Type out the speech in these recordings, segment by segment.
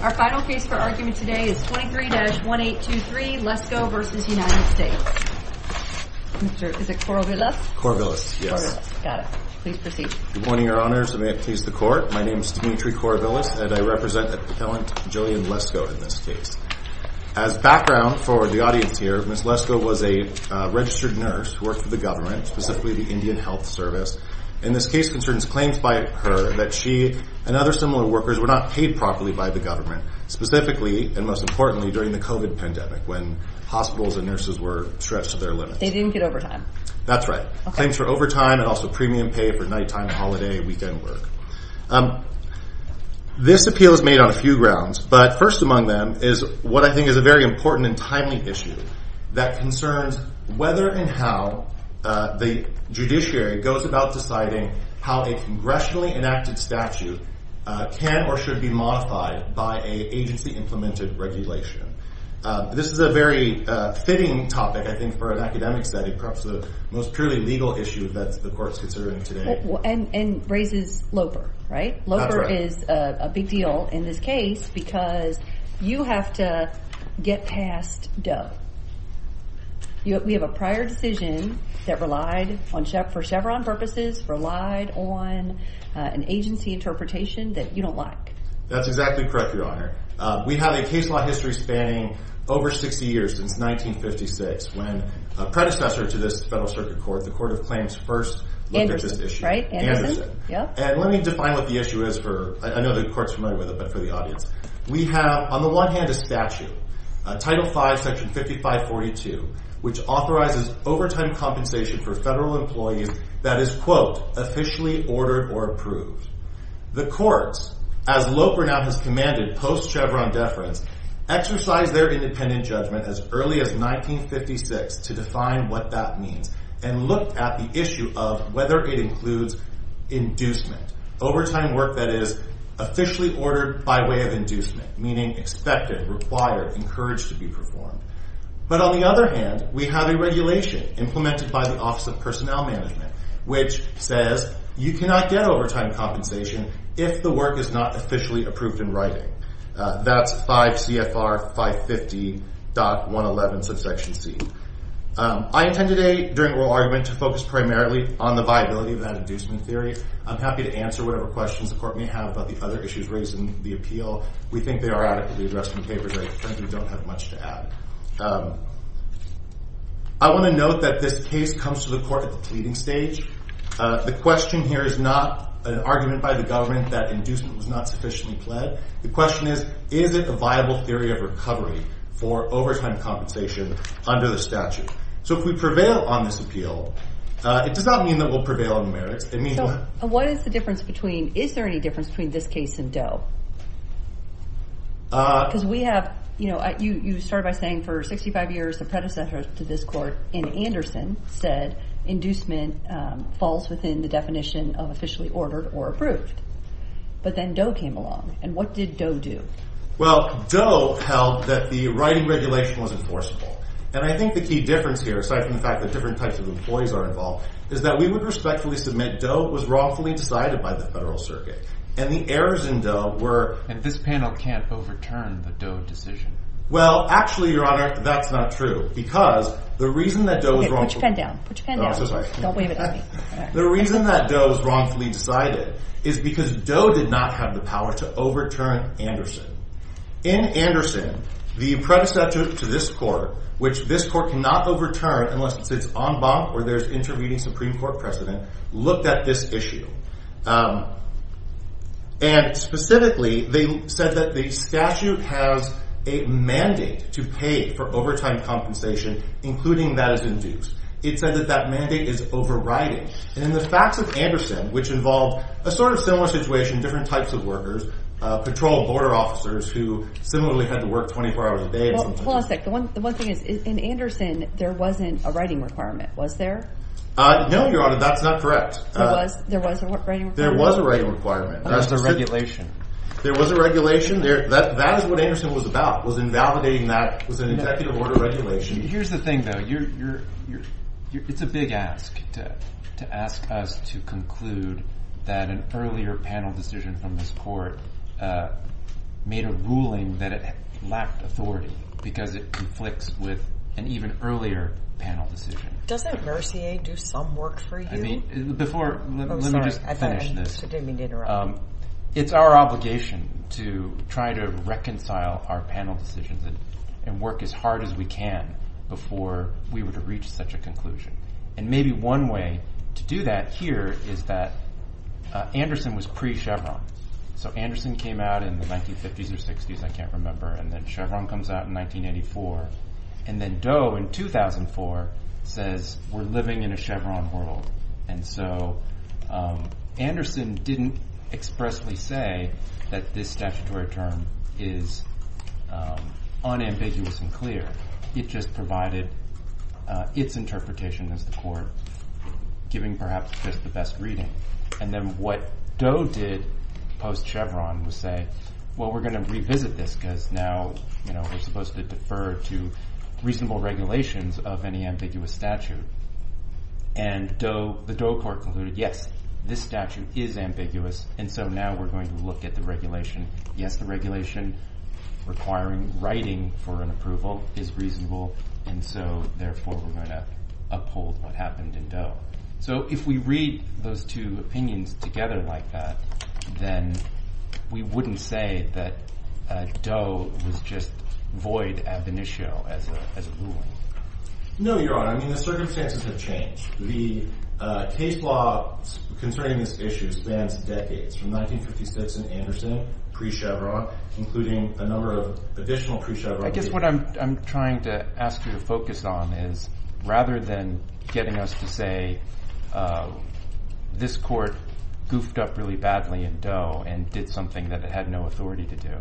Our final case for argument today is 23-1823, Lesko v. United States Mr., is it Corvillis? Corvillis, yes. Corvillis, got it. Please proceed. Good morning, Your Honors, and may it please the Court. My name is Timothy Corvillis, and I represent Appellant Jillian Lesko in this case. As background for the audience here, Ms. Lesko was a registered nurse who worked for the government, specifically the Indian Health Service. And this case concerns claims by her that she and other similar workers were not paid properly by the government, specifically, and most importantly, during the COVID pandemic when hospitals and nurses were stretched to their limits. They didn't get overtime. That's right. Claims for overtime and also premium pay for nighttime, holiday, weekend work. This appeal is made on a few grounds, but first among them is what I think is a very important and timely issue that concerns whether and how the judiciary goes about deciding how a congressionally enacted statute can or should be modified by an agency-implemented regulation. This is a very fitting topic, I think, for an academic study, perhaps the most purely legal issue that the Court is considering today. And raises LOPR, right? That's right. That's a big deal in this case because you have to get past Doe. We have a prior decision that relied for Chevron purposes, relied on an agency interpretation that you don't like. That's exactly correct, Your Honor. We have a case law history spanning over 60 years, since 1956, when a predecessor to this Federal Circuit Court, the Court of Claims, first looked at this issue. Anderson, right? Anderson. Yep. And let me define what the issue is for, I know the Court's familiar with it, but for the audience. We have, on the one hand, a statute, Title V, Section 5542, which authorizes overtime compensation for Federal employees that is, quote, officially ordered or approved. The Courts, as LOPR now has commanded post-Chevron deference, exercised their independent judgment as early as 1956 to define what that means and looked at the issue of whether it includes inducement. Overtime work that is officially ordered by way of inducement, meaning expected, required, encouraged to be performed. But on the other hand, we have a regulation implemented by the Office of Personnel Management, which says you cannot get overtime compensation if the work is not officially approved in writing. That's 5 CFR 550.111 subsection C. I intend today, during the oral argument, to focus primarily on the viability of that inducement theory. I'm happy to answer whatever questions the Court may have about the other issues raised in the appeal. We think they are adequately addressed in the papers. I think we don't have much to add. I want to note that this case comes to the Court at the pleading stage. The question here is not an argument by the government that inducement was not sufficiently pled. The question is, is it a viable theory of recovery for overtime compensation under the statute? So if we prevail on this appeal, it does not mean that we'll prevail on the merits. What is the difference between, is there any difference between this case and Doe? Because we have, you know, you started by saying for 65 years the predecessor to this Court in Anderson said inducement falls within the definition of officially ordered or approved. But then Doe came along. And what did Doe do? Well, Doe held that the writing regulation was enforceable. And I think the key difference here, aside from the fact that different types of employees are involved, is that we would respectfully submit Doe was wrongfully decided by the Federal Circuit. And the errors in Doe were And this panel can't overturn the Doe decision. Well, actually, Your Honor, that's not true. Because the reason that Doe was wrongfully Okay, put your pen down. Put your pen down. Don't wave it at me. The reason that Doe was wrongfully decided is because Doe did not have the power to overturn Anderson. In Anderson, the predecessor to this Court, which this Court cannot overturn unless it's en banc or there's intervening Supreme Court precedent, looked at this issue. And specifically, they said that the statute has a mandate to pay for overtime compensation, including that is induced. It said that that mandate is overriding. And in the facts of Anderson, which involved a sort of similar situation, different types of workers, patrol border officers who similarly had to work 24 hours a day Well, hold on a sec. The one thing is, in Anderson, there wasn't a writing requirement. Was there? No, Your Honor. That's not correct. There was a writing requirement. There was a writing requirement. There was a regulation. There was a regulation. That is what Anderson was about, was invalidating that. It was an executive order regulation. Here's the thing, though. It's a big ask to ask us to conclude that an earlier panel decision from this Court made a ruling that it lacked authority because it conflicts with an even earlier panel decision. Doesn't Mercier do some work for you? Let me just finish this. I didn't mean to interrupt. It's our obligation to try to reconcile our panel decisions and work as hard as we can before we were to reach such a conclusion. And maybe one way to do that here is that Anderson was pre-Chevron. So Anderson came out in the 1950s or 60s. I can't remember. And then Chevron comes out in 1984. And then Doe, in 2004, says we're living in a Chevron world. And so Anderson didn't expressly say that this statutory term is unambiguous and clear. It just provided its interpretation as the Court giving perhaps just the best reading. And then what Doe did post-Chevron was say, well, we're going to revisit this because now we're supposed to defer to reasonable regulations of any ambiguous statute. And the Doe Court concluded, yes, this statute is ambiguous, and so now we're going to look at the regulation. Yes, the regulation requiring writing for an approval is reasonable, and so therefore we're going to uphold what happened in Doe. So if we read those two opinions together like that, then we wouldn't say that Doe was just void ad venitio as a ruling. No, Your Honor. I mean the circumstances have changed. The case law concerning this issue spans decades from 1956 and Anderson pre-Chevron, including a number of additional pre-Chevron. I guess what I'm trying to ask you to focus on is rather than getting us to say this court goofed up really badly in Doe and did something that it had no authority to do,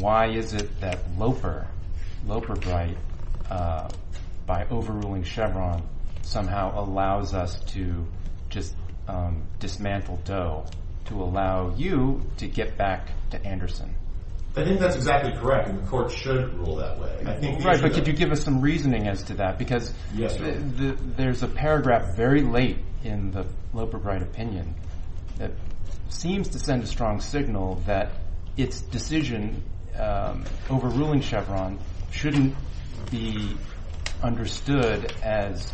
why is it that Loper, Loper Bright, by overruling Chevron, somehow allows us to just dismantle Doe to allow you to get back to Anderson? I think that's exactly correct, and the court shouldn't rule that way. Right, but could you give us some reasoning as to that? Because there's a paragraph very late in the Loper Bright opinion that seems to send a strong signal that its decision overruling Chevron shouldn't be understood as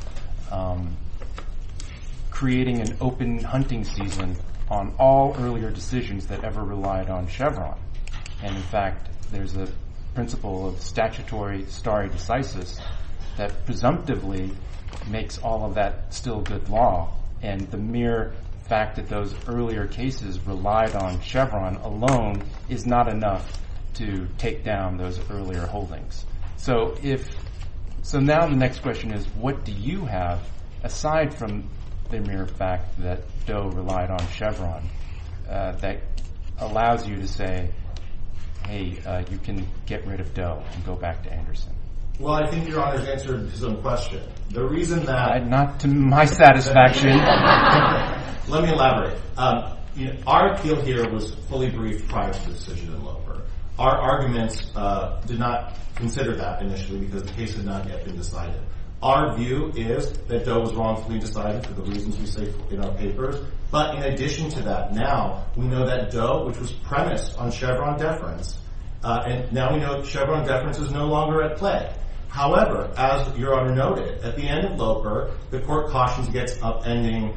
creating an open hunting season on all earlier decisions that ever relied on Chevron. And, in fact, there's a principle of statutory stare decisis that presumptively makes all of that still good law, and the mere fact that those earlier cases relied on Chevron alone is not enough to take down those earlier holdings. So now the next question is what do you have, aside from the mere fact that Doe relied on Chevron, that allows you to say, hey, you can get rid of Doe and go back to Anderson? Well, I think Your Honor has answered his own question. Not to my satisfaction. Let me elaborate. Our appeal here was fully briefed prior to the decision in Loper. Our arguments did not consider that initially because the case had not yet been decided. Our view is that Doe was wrongfully decided for the reasons we say in our papers, but in addition to that, now we know that Doe, which was premised on Chevron deference, and now we know that Chevron deference is no longer at play. However, as Your Honor noted, at the end of Loper, the court cautions against upending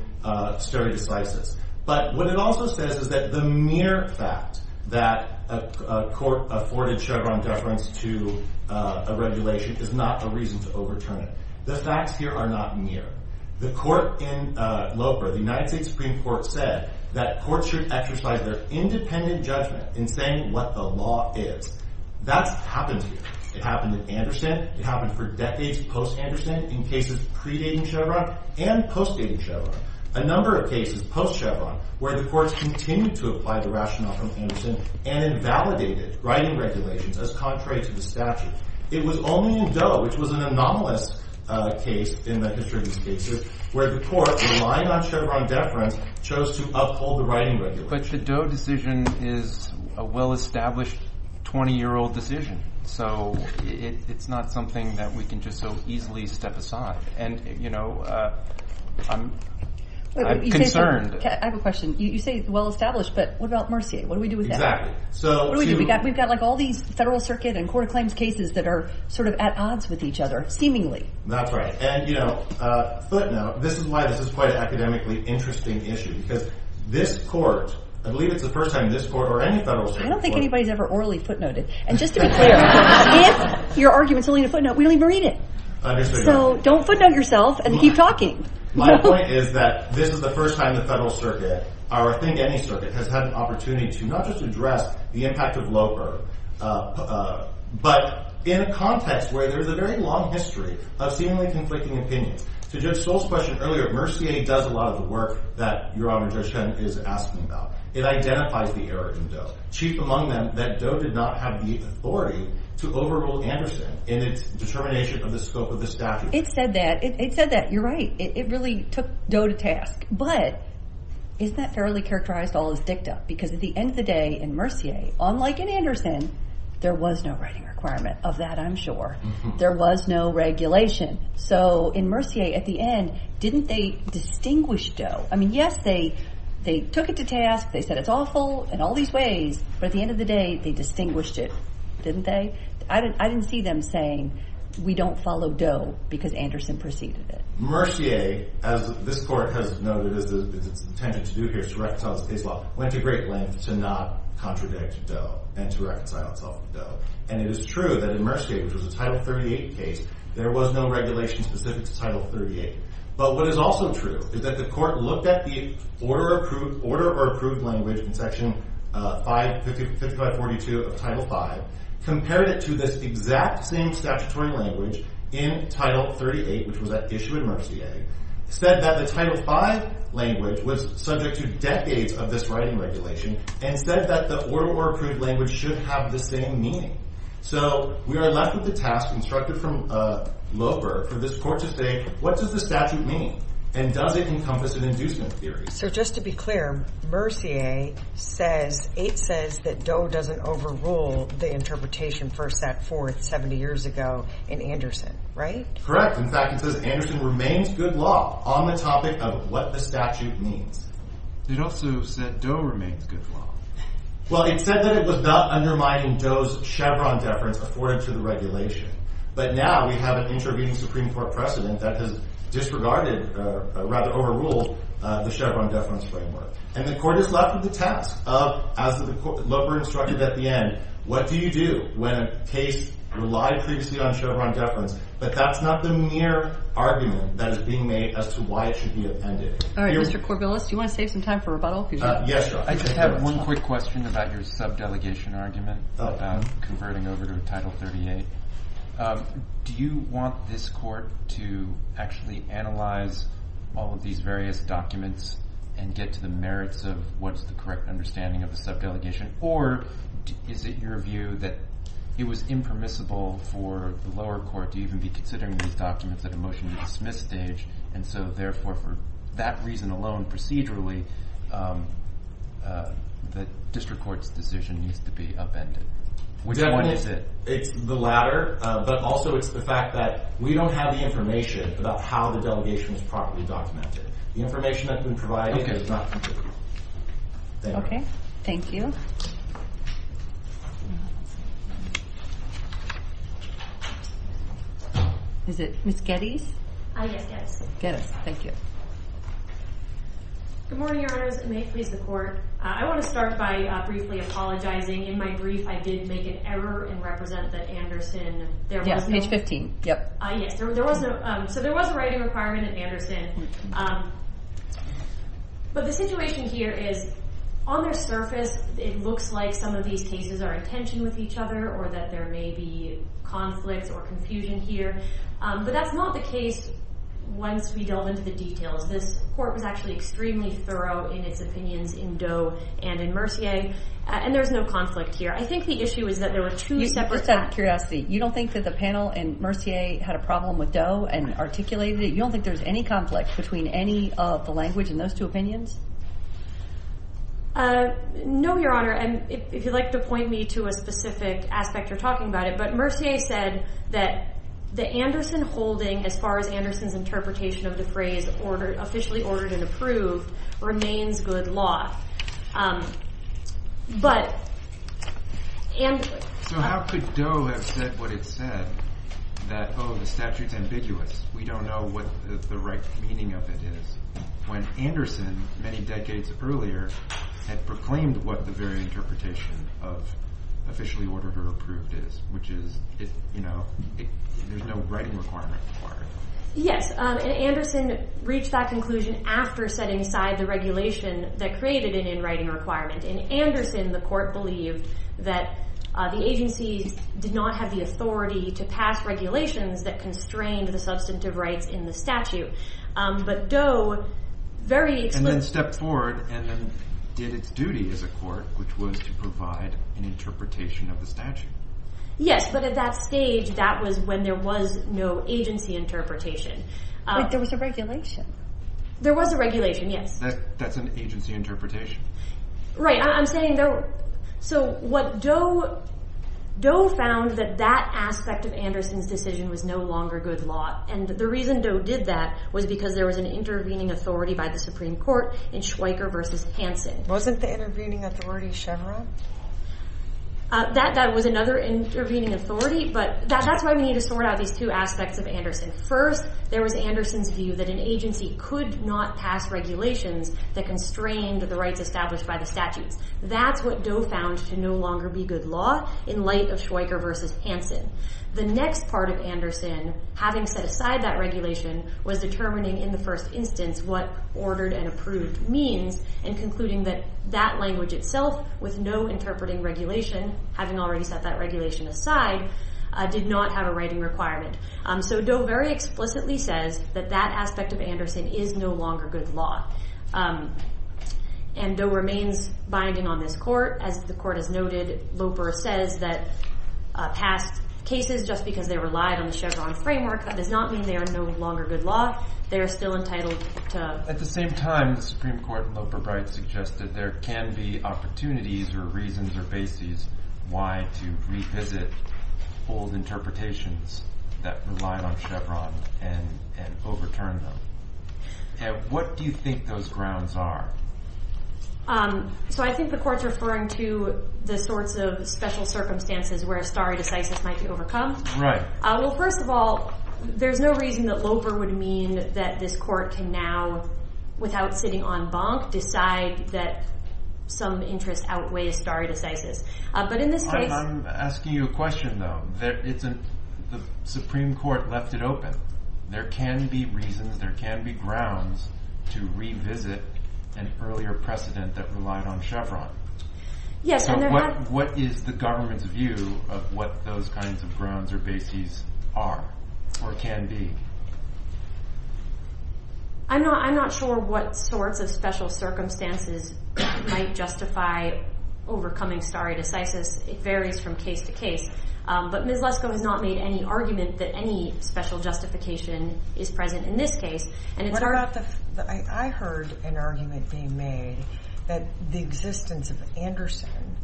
stare decisis. But what it also says is that the mere fact that a court afforded Chevron deference to a regulation is not a reason to overturn it. The facts here are not mere. The court in Loper, the United States Supreme Court, said that courts should exercise their independent judgment in saying what the law is. That's happened here. It happened at Anderson. It happened for decades post-Anderson in cases predating Chevron and post-dating Chevron. A number of cases post-Chevron where the courts continued to apply the rationale from Anderson and invalidated writing regulations as contrary to the statute. It was only in Doe, which was an anomalous case in the history of these cases, where the court, relying on Chevron deference, chose to uphold the writing regulations. But the Doe decision is a well-established 20-year-old decision. So it's not something that we can just so easily step aside. And, you know, I'm concerned. I have a question. You say well-established, but what about Mercier? What do we do with that? What do we do? We've got, like, all these Federal Circuit and court of claims cases that are sort of at odds with each other, seemingly. That's right. And, you know, footnote, this is why this is quite an academically interesting issue because this court, I believe it's the first time this court or any Federal Circuit court I don't think anybody's ever orally footnoted. And just to be clear, if your argument's only in a footnote, we don't even read it. So don't footnote yourself and keep talking. My point is that this is the first time the Federal Circuit or I think any circuit has had an opportunity to not just address the impact of low-error, but in a context where there's a very long history of seemingly conflicting opinions. To Judge Stoll's question earlier, Mercier does a lot of the work that Your Honor, Judge Schen is asking about. It identifies the error in Doe. Chief among them that Doe did not have the authority to overrule Anderson in its determination of the scope of the statute. It said that. It said that. You're right. It really took Doe to task. But isn't that fairly characterized all as dicta? Because at the end of the day in Mercier, unlike in Anderson, there was no writing requirement of that, I'm sure. There was no regulation. So in Mercier at the end, didn't they distinguish Doe? I mean, yes, they took it to task. They said it's awful. It's awful in all these ways. But at the end of the day, they distinguished it, didn't they? I didn't see them saying, we don't follow Doe because Anderson preceded it. Mercier, as this Court has noted, its intention to do here is to reconcile its case law, went to great lengths to not contradict Doe and to reconcile itself with Doe. And it is true that in Mercier, which was a Title 38 case, there was no regulation specific to Title 38. But what is also true is that the Court looked at the Order or Approved Language in Section 5542 of Title V, compared it to this exact same statutory language in Title 38, which was at issue in Mercier, said that the Title V language was subject to decades of this writing regulation, and said that the Order or Approved Language should have the same meaning. So we are left with the task instructed from Loper for this Court to say, what does the statute mean? And does it encompass an inducement theory? So just to be clear, Mercier says, it says that Doe doesn't overrule the interpretation first set forth 70 years ago in Anderson, right? Correct. In fact, it says Anderson remains good law on the topic of what the statute means. It also said Doe remains good law. Well, it said that it was not undermining Doe's Chevron deference afforded to the regulation. But now we have an intervening Supreme Court precedent that has disregarded, or rather overruled, the Chevron deference framework. And the Court is left with the task of, as Loper instructed at the end, what do you do when a case relied previously on Chevron deference? But that's not the mere argument that is being made as to why it should be appended. All right, Mr. Corbillis, do you want to save some time for rebuttal? Yes, Your Honor. I just have one quick question about your sub-delegation argument about converting over to Title 38. Do you want this Court to actually analyze all of these various documents and get to the merits of what's the correct understanding of the sub-delegation? Or is it your view that it was impermissible for the lower court to even be considering these documents at a motion-to-dismiss stage, and so therefore, for that reason alone procedurally, the district court's decision needs to be appended? Which one is it? It's the latter, but also it's the fact that we don't have the information about how the delegation was properly documented. The information that's been provided is not complete. Thank you. Okay, thank you. Is it Ms. Geddes? Yes, Geddes. Geddes, thank you. Good morning, Your Honors. It may please the Court. I want to start by briefly apologizing. In my brief, I did make an error and represent that Anderson... Yes, page 15, yep. Yes, so there was a writing requirement of Anderson, but the situation here is on their surface, it looks like some of these cases are in tension with each other or that there may be conflicts or confusion here, but that's not the case once we delve into the details. This Court was actually extremely thorough in its opinions in Doe and in Mercier, and there's no conflict here. I think the issue is that there were two separate facts. Just out of curiosity, you don't think that the panel in Mercier had a problem with Doe and articulated it? You don't think there's any conflict between any of the language in those two opinions? No, Your Honor, and if you'd like to point me to a specific aspect or talking about it, but Mercier said that the Anderson holding, as far as Anderson's interpretation of the phrase officially ordered and approved, remains good law. But Anderson... So how could Doe have said what it said, that, oh, the statute's ambiguous, we don't know what the right meaning of it is, when Anderson, many decades earlier, had proclaimed what the very interpretation of officially ordered or approved is, which is, you know, there's no writing requirement required. Yes, and Anderson reached that conclusion after setting aside the regulation that created an in-writing requirement. In Anderson, the court believed that the agency did not have the authority to pass regulations that constrained the substantive rights in the statute. But Doe very explicitly... And then stepped forward and then did its duty as a court, which was to provide an interpretation of the statute. Yes, but at that stage, that was when there was no agency interpretation. But there was a regulation. There was a regulation, yes. That's an agency interpretation. Right, I'm saying there were... So what Doe... Doe found that that aspect of Anderson's decision was no longer good law, and the reason Doe did that was because there was an intervening authority by the Supreme Court in Schweiker v. Hansen. Wasn't the intervening authority Chevron? That was another intervening authority, but that's why we need to sort out these two aspects of Anderson. First, there was Anderson's view that an agency could not pass regulations that constrained the rights established by the statutes. That's what Doe found to no longer be good law in light of Schweiker v. Hansen. The next part of Anderson, having set aside that regulation, was determining in the first instance what ordered and approved means and concluding that that language itself, with no interpreting regulation, having already set that regulation aside, did not have a writing requirement. So Doe very explicitly says that that aspect of Anderson is no longer good law. And Doe remains binding on this court. As the court has noted, Loper says that past cases, just because they relied on the Chevron framework, that does not mean they are no longer good law. They are still entitled to... At the same time, the Supreme Court in Loper v. Bright suggested there can be opportunities or reasons or bases why to revisit old interpretations that relied on Chevron and overturn them. And what do you think those grounds are? So I think the court's referring to the sorts of special circumstances where stare decisis might be overcome. Right. Well, first of all, there's no reason that Loper would mean that this court can now, without sitting on bonk, decide that some interest outweighs stare decisis. But in this case... I'm asking you a question, though. The Supreme Court left it open. There can be reasons, there can be grounds to revisit an earlier precedent that relied on Chevron. So what is the government's view of what those kinds of grounds or bases are or can be? I'm not sure what sorts of special circumstances might justify overcoming stare decisis. It varies from case to case. But Ms. Lesko has not made any argument that any special justification is present in this case. What about the... I heard an argument being made that the existence of Anderson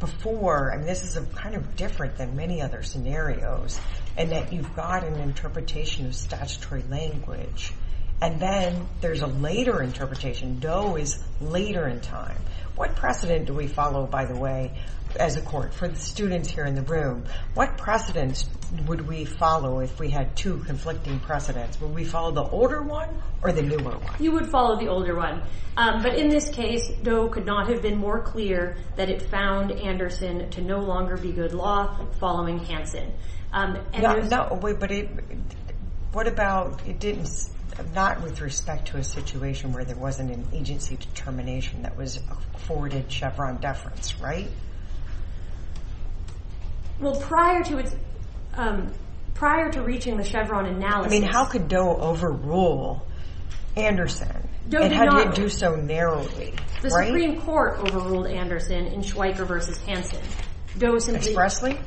before, and this is kind of different than many other scenarios, and that you've got an interpretation of statutory language, and then there's a later interpretation, Doe is later in time. What precedent do we follow, by the way, as a court? For the students here in the room, what precedent would we follow if we had two conflicting precedents? Would we follow the older one or the newer one? You would follow the older one. But in this case, Doe could not have been more clear that it found Anderson to no longer be good law following Hansen. No, but it... What about, it didn't... Not with respect to a situation where there wasn't an agency determination that was afforded Chevron deference, right? Well, prior to its... Prior to reaching the Chevron analysis... I mean, how could Doe overrule Anderson? Doe did not. And how did it do so narrowly? The Supreme Court overruled Anderson in Schweiker v. Hansen. Expressly?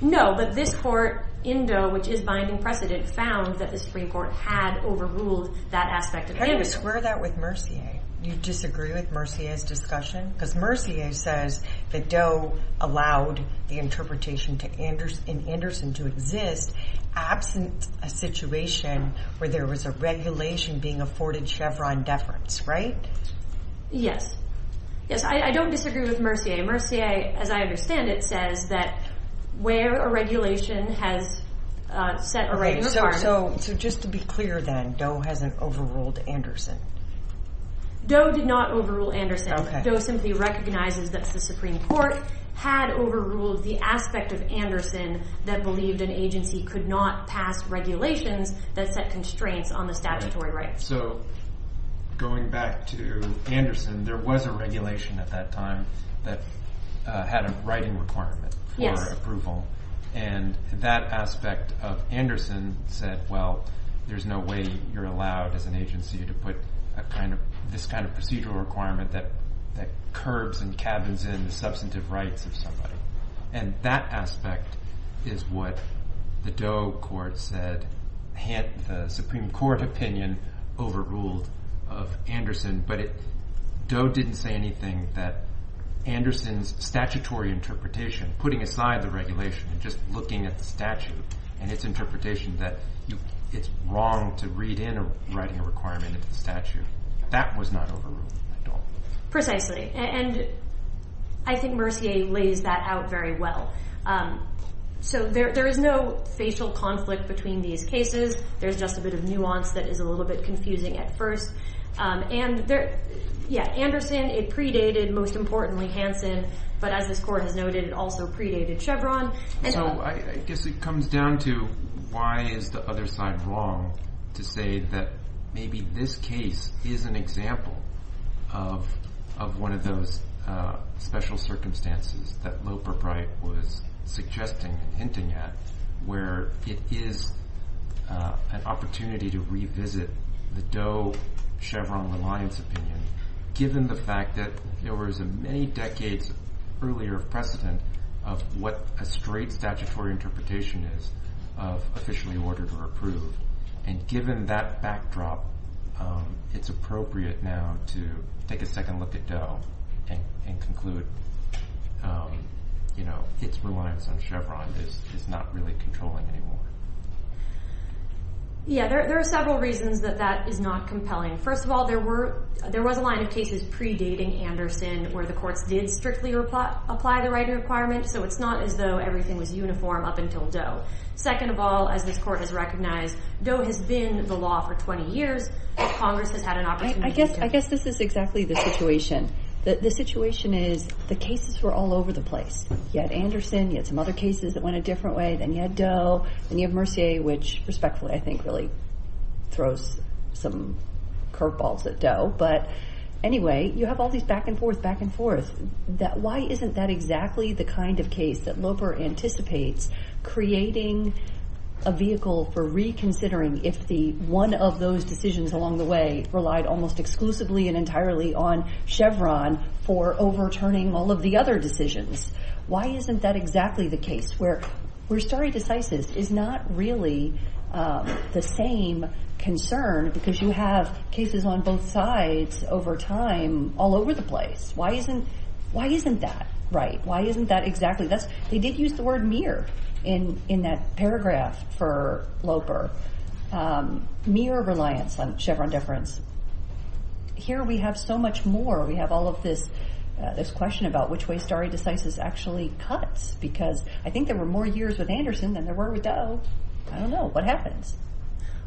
No, but this court in Doe, which is binding precedent, found that the Supreme Court had overruled that aspect of Anderson. How do you square that with Mercier? Do you disagree with Mercier's discussion? Because Mercier says that Doe allowed the interpretation in Anderson to exist absent a situation where there was a regulation being afforded Chevron deference, right? Yes. Yes, I don't disagree with Mercier. Mercier, as I understand it, says that where a regulation has set already... Okay, so just to be clear then, Doe hasn't overruled Anderson? Doe did not overrule Anderson. Doe simply recognizes that the Supreme Court had overruled the aspect of Anderson that believed an agency could not pass regulations that set constraints on the statutory rights. So going back to Anderson, there was a regulation at that time that had a writing requirement for approval. And that aspect of Anderson said, well, there's no way you're allowed as an agency to put this kind of procedural requirement that curbs and cabins in the substantive rights of somebody. And that aspect is what the Doe court said, the Supreme Court opinion overruled of Anderson. But Doe didn't say anything that Anderson's statutory interpretation, putting aside the regulation and just looking at the statute and its interpretation that it's wrong to read in a writing requirement of the statute. That was not overruled at all. Precisely. And I think Mercier lays that out very well. So there is no facial conflict between these cases. There's just a bit of nuance that is a little bit confusing at first. And yeah, Anderson, it predated, most importantly, Hanson. But as this court has noted, it also predated Chevron. So I guess it comes down to why is the other side wrong to say that maybe this case is an example of one of those special circumstances that Loper Bright was suggesting and hinting at, where it is an opportunity to revisit the Doe-Chevron reliance opinion, given the fact that there was a many decades earlier precedent of what a straight statutory interpretation is of officially ordered or approved. And given that backdrop, it's appropriate now to take a second look at Doe and conclude its reliance on Chevron is not really controlling anymore. Yeah, there are several reasons that that is not compelling. First of all, there was a line of cases predating Anderson where the courts did strictly apply the writing requirement. So it's not as though everything was uniform up until Doe. Second of all, as this court has recognized, Doe has been the law for 20 years. Congress has had an opportunity to... I guess this is exactly the situation. The situation is the cases were all over the place. You had Anderson. You had some other cases that went a different way. Then you had Doe. Then you have Mercier, which respectfully, I think, really throws some curveballs at Doe. But anyway, you have all these back and forth, back and forth. Why isn't that exactly the kind of case that Loper anticipates creating a vehicle for reconsidering if one of those decisions along the way relied almost exclusively and entirely on Chevron for overturning all of the other decisions? Why isn't that exactly the case where stare decisis is not really the same concern because you have cases on both sides over time all over the place? Why isn't that right? Why isn't that exactly... They did use the word mere in that paragraph for Loper. Mere reliance on Chevron deference. Here we have so much more. We have all of this question about which way stare decisis actually cuts because I think there were more years with Anderson than there were with Doe. I don't know. What happens?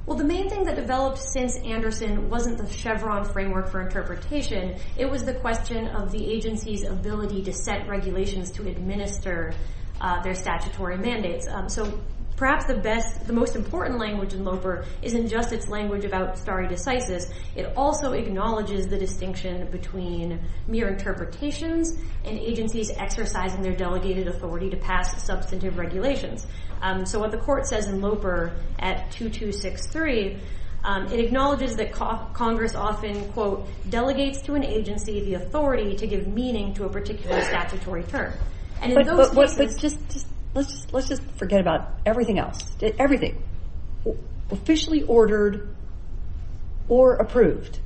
Well, the main thing that developed since Anderson wasn't the Chevron framework for interpretation. It was the question of the agency's ability to set regulations to administer their statutory mandates. Perhaps the most important language in Loper isn't just its language about stare decisis. It also acknowledges the distinction between mere interpretations and agencies exercising their delegated authority to pass substantive regulations. What the court says in Loper at 2263, it acknowledges that Congress often, quote, delegates to an agency the authority to give meaning to a particular statutory term. Let's just forget about everything else. Officially ordered or approved.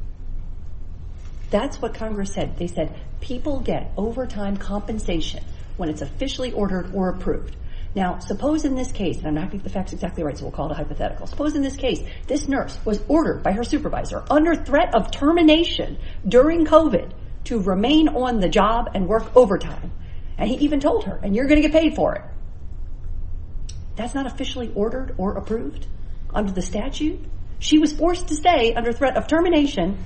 That's what Congress said. They said people get overtime compensation when it's officially ordered or approved. Now, suppose in this case, and I think the fact is exactly right, so we'll call it a hypothetical. Suppose in this case, this nurse was ordered by her supervisor under threat of termination during COVID to remain on the job and work overtime. And he even told her, and you're going to get paid for it. That's not officially ordered or approved under the statute. She was forced to stay under threat of termination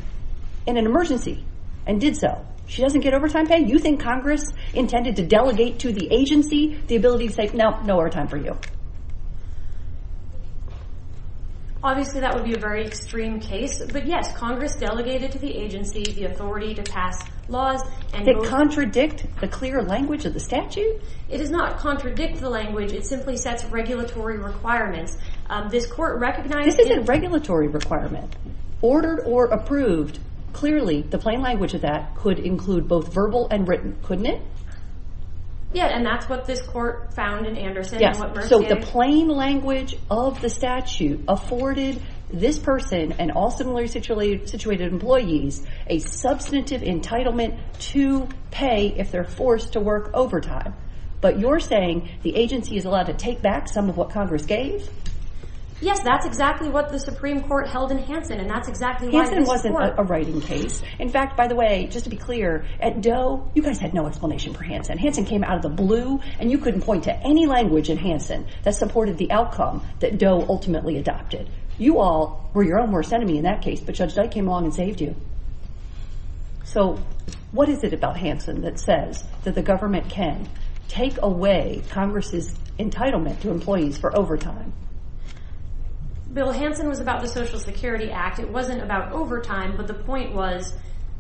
in an emergency and did so. She doesn't get overtime pay. You think Congress intended to delegate to the agency the ability to say, no, no overtime for you. Obviously, that would be a very extreme case. But yes, Congress delegated to the agency the authority to pass laws. Does it contradict the clear language of the statute? It does not contradict the language. It simply sets regulatory requirements. This court recognized... This isn't a regulatory requirement. Ordered or approved, clearly, the plain language of that could include both verbal and written, couldn't it? Yeah, and that's what this court found in Anderson. So the plain language of the statute afforded this person and all similarly situated employees a substantive entitlement to pay if they're forced to work overtime. But you're saying the agency is allowed to take back some of what Congress gave? Yes, that's exactly what the Supreme Court held in Hansen, and that's exactly why this court... Hansen wasn't a writing case. In fact, by the way, just to be clear, at Doe, you guys had no explanation for Hansen. Hansen came out of the blue, and you couldn't point to any language in Hansen that supported the outcome that Doe ultimately adopted. You all were your own worst enemy in that case, but Judge Dyke came along and saved you. So what is it about Hansen that says that the government can take away Congress's entitlement to employees for overtime? Bill, Hansen was about the Social Security Act. It wasn't about overtime, but the point was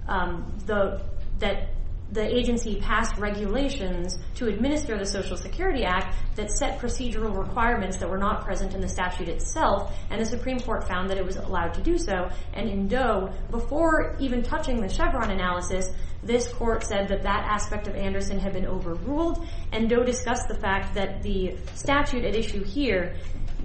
that the agency passed regulations to administer the Social Security Act that set procedural requirements that were not present in the statute itself, and the Supreme Court found that it was allowed to do so, and in Doe, before even touching the Chevron analysis, this court said that that aspect of Anderson had been overruled, and Doe discussed the fact that the statute at issue here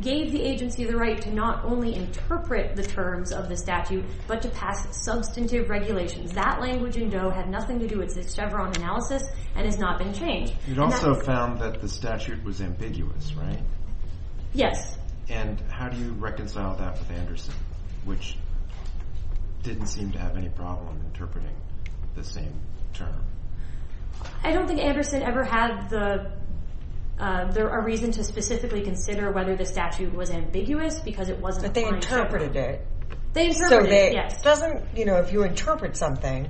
gave the agency the right to not only interpret the terms of the statute, but to pass substantive regulations. That language in Doe had nothing to do with the Chevron analysis, and has not been changed. You'd also found that the statute was ambiguous, right? Yes. And how do you reconcile that with Anderson, which didn't seem to have any problem interpreting the same term? I don't think Anderson ever had the... There are reasons to specifically consider whether the statute was ambiguous because it wasn't according to Chevron. But they interpreted it. They interpreted it, yes. Doesn't, you know, if you interpret something,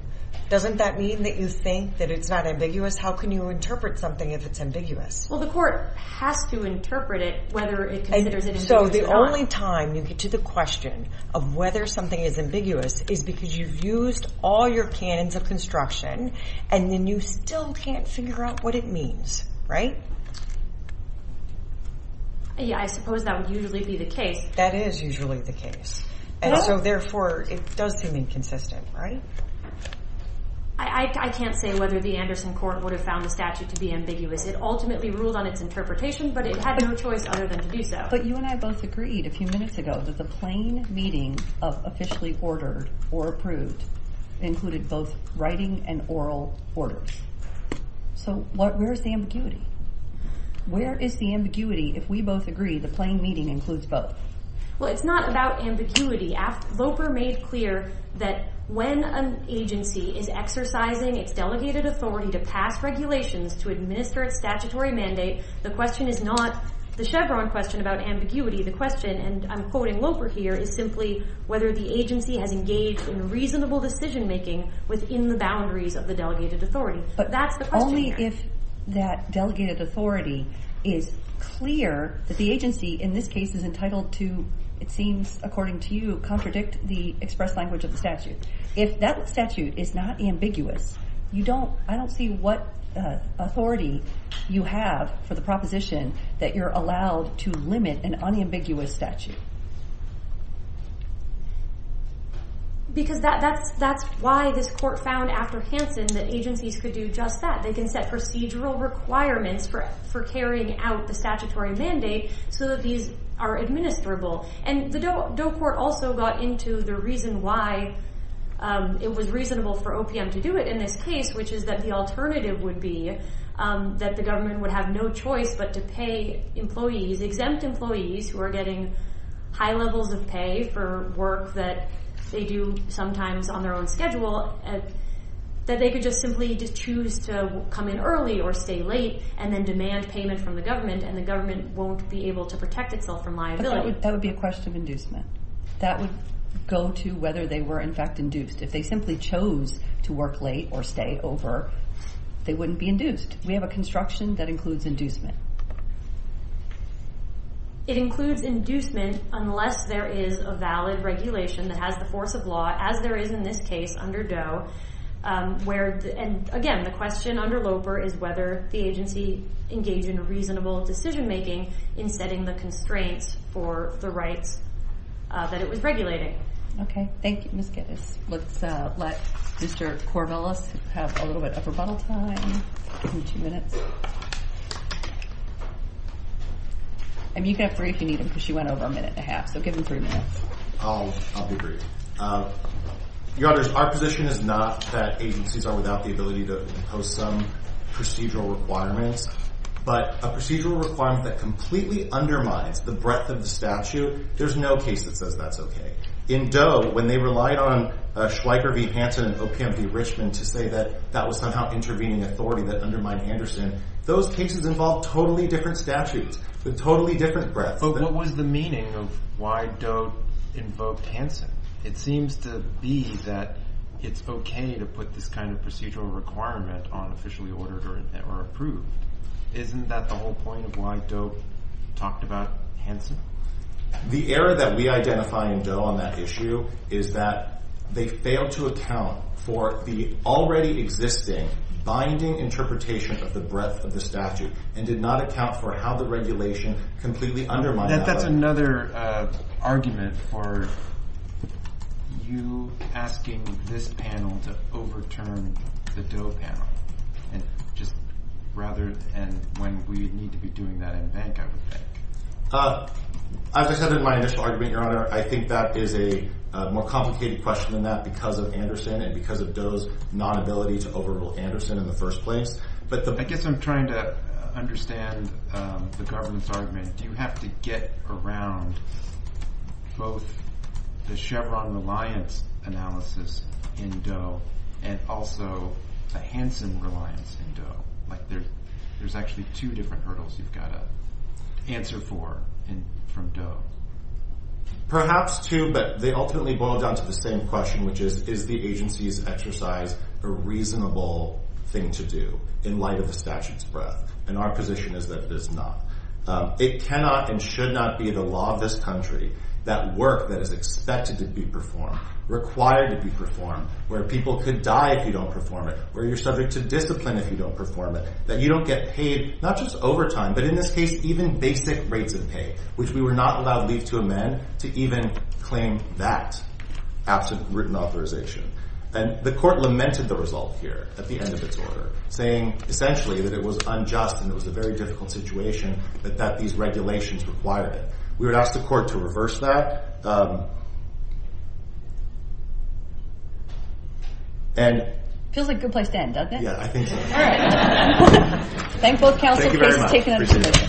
doesn't that mean that you think that it's not ambiguous? How can you interpret something if it's ambiguous? Well, the court has to interpret it whether it considers it ambiguous or not. So the only time you get to the question of whether something is ambiguous is because you've used all your canons of construction, and then you still can't figure out what it means, right? Yeah, I suppose that would usually be the case. That is usually the case. And so, therefore, it does seem inconsistent, right? I can't say whether the Anderson court would have found the statute to be ambiguous. It ultimately ruled on its interpretation, but it had no choice other than to do so. But you and I both agreed a few minutes ago that the plain meeting of officially ordered or approved included both writing and oral orders. So where is the ambiguity? Where is the ambiguity if we both agree the plain meeting includes both? Well, it's not about ambiguity. Loper made clear that when an agency is exercising its delegated authority to pass regulations to administer its statutory mandate, the question is not the Chevron question about ambiguity. The question, and I'm quoting Loper here, is simply whether the agency has engaged in reasonable decision making within the boundaries of the delegated authority. That's the question. But only if that delegated authority is clear that the agency in this case is entitled to, it seems according to you, contradict the express language of the statute. If that statute is not ambiguous, I don't see what authority you have for the proposition that you're allowed to limit an unambiguous statute. Because that's why this court found after Hansen that agencies could do just that. They can set procedural requirements for carrying out the statutory mandate so that these are administrable. And the Doe Court also got into the reason why it was reasonable for OPM to do it in this case, which is that the alternative would be that the government would have no choice but to pay employees, the exempt employees who are getting high levels of pay for work that they do sometimes on their own schedule, that they could just simply just choose to come in early or stay late and then demand payment from the government and the government won't be able to protect itself from liability. That would be a question of inducement. That would go to whether they were in fact induced. If they simply chose to work late or stay over, they wouldn't be induced. We have a construction that includes inducement. It includes inducement unless there is a valid regulation that has the force of law, as there is in this case under Doe, where, and again, the question under LOPR is whether the agency engaged in a reasonable decision making in setting the constraints for the rights that it was regulating. Okay, thank you, Ms. Geddes. Let's let Mr. Corvallis have a little bit of rebuttal time in two minutes. And you can have three if you need them because she went over a minute and a half, so give them three minutes. I'll be brief. Your Honors, our position is not that agencies are without the ability to impose some procedural requirements, but a procedural requirement that completely undermines the breadth of the statute, there's no case that says that's okay. In Doe, when they relied on Schweiker v. Hanson and OPM v. Richmond to say that that was somehow intervening authority that undermined Anderson, those cases involved totally different statutes with totally different breadth. But what was the meaning of why Doe invoked Hanson? It seems to be that it's okay to put this kind of procedural requirement on officially ordered or approved. Isn't that the whole point of why Doe talked about Hanson? The error that we identify in Doe on that issue is that they failed to account for the already existing binding interpretation of the breadth of the statute and did not account for how the regulation completely undermined that. That's another argument for you asking this panel to overturn the Doe panel. And when we need to be doing that in bank, I would think. As I said in my initial argument, Your Honor, I think that is a more complicated question than that because of Anderson and because of Doe's non-ability to overrule Anderson in the first place. I guess I'm trying to understand the government's argument. Do you have to get around both the Chevron reliance analysis in Doe and also a Hanson reliance in Doe? There's actually two different hurdles you've got to answer for from Doe. Perhaps two, but they ultimately boil down to the same question which is, is the agency's exercise a reasonable thing to do in light of the statute's breadth? And our position is that it is not. It cannot and should not be the law of this country that work that is expected to be performed, required to be performed, where people could die if you don't perform it, where you're subject to discipline if you don't perform it, that you don't get paid not just overtime, but in this case, even basic rates of pay, which we were not allowed leave to amend to even claim that absent written authorization. And the court lamented the result here at the end of its order, saying essentially that it was unjust and it was a very difficult situation but that these regulations required it. We would ask the court to reverse that. And... Feels like a good place to end, doesn't it? Yeah, I think so. Alright. Thank both counsel. Thank you very much. Appreciate it.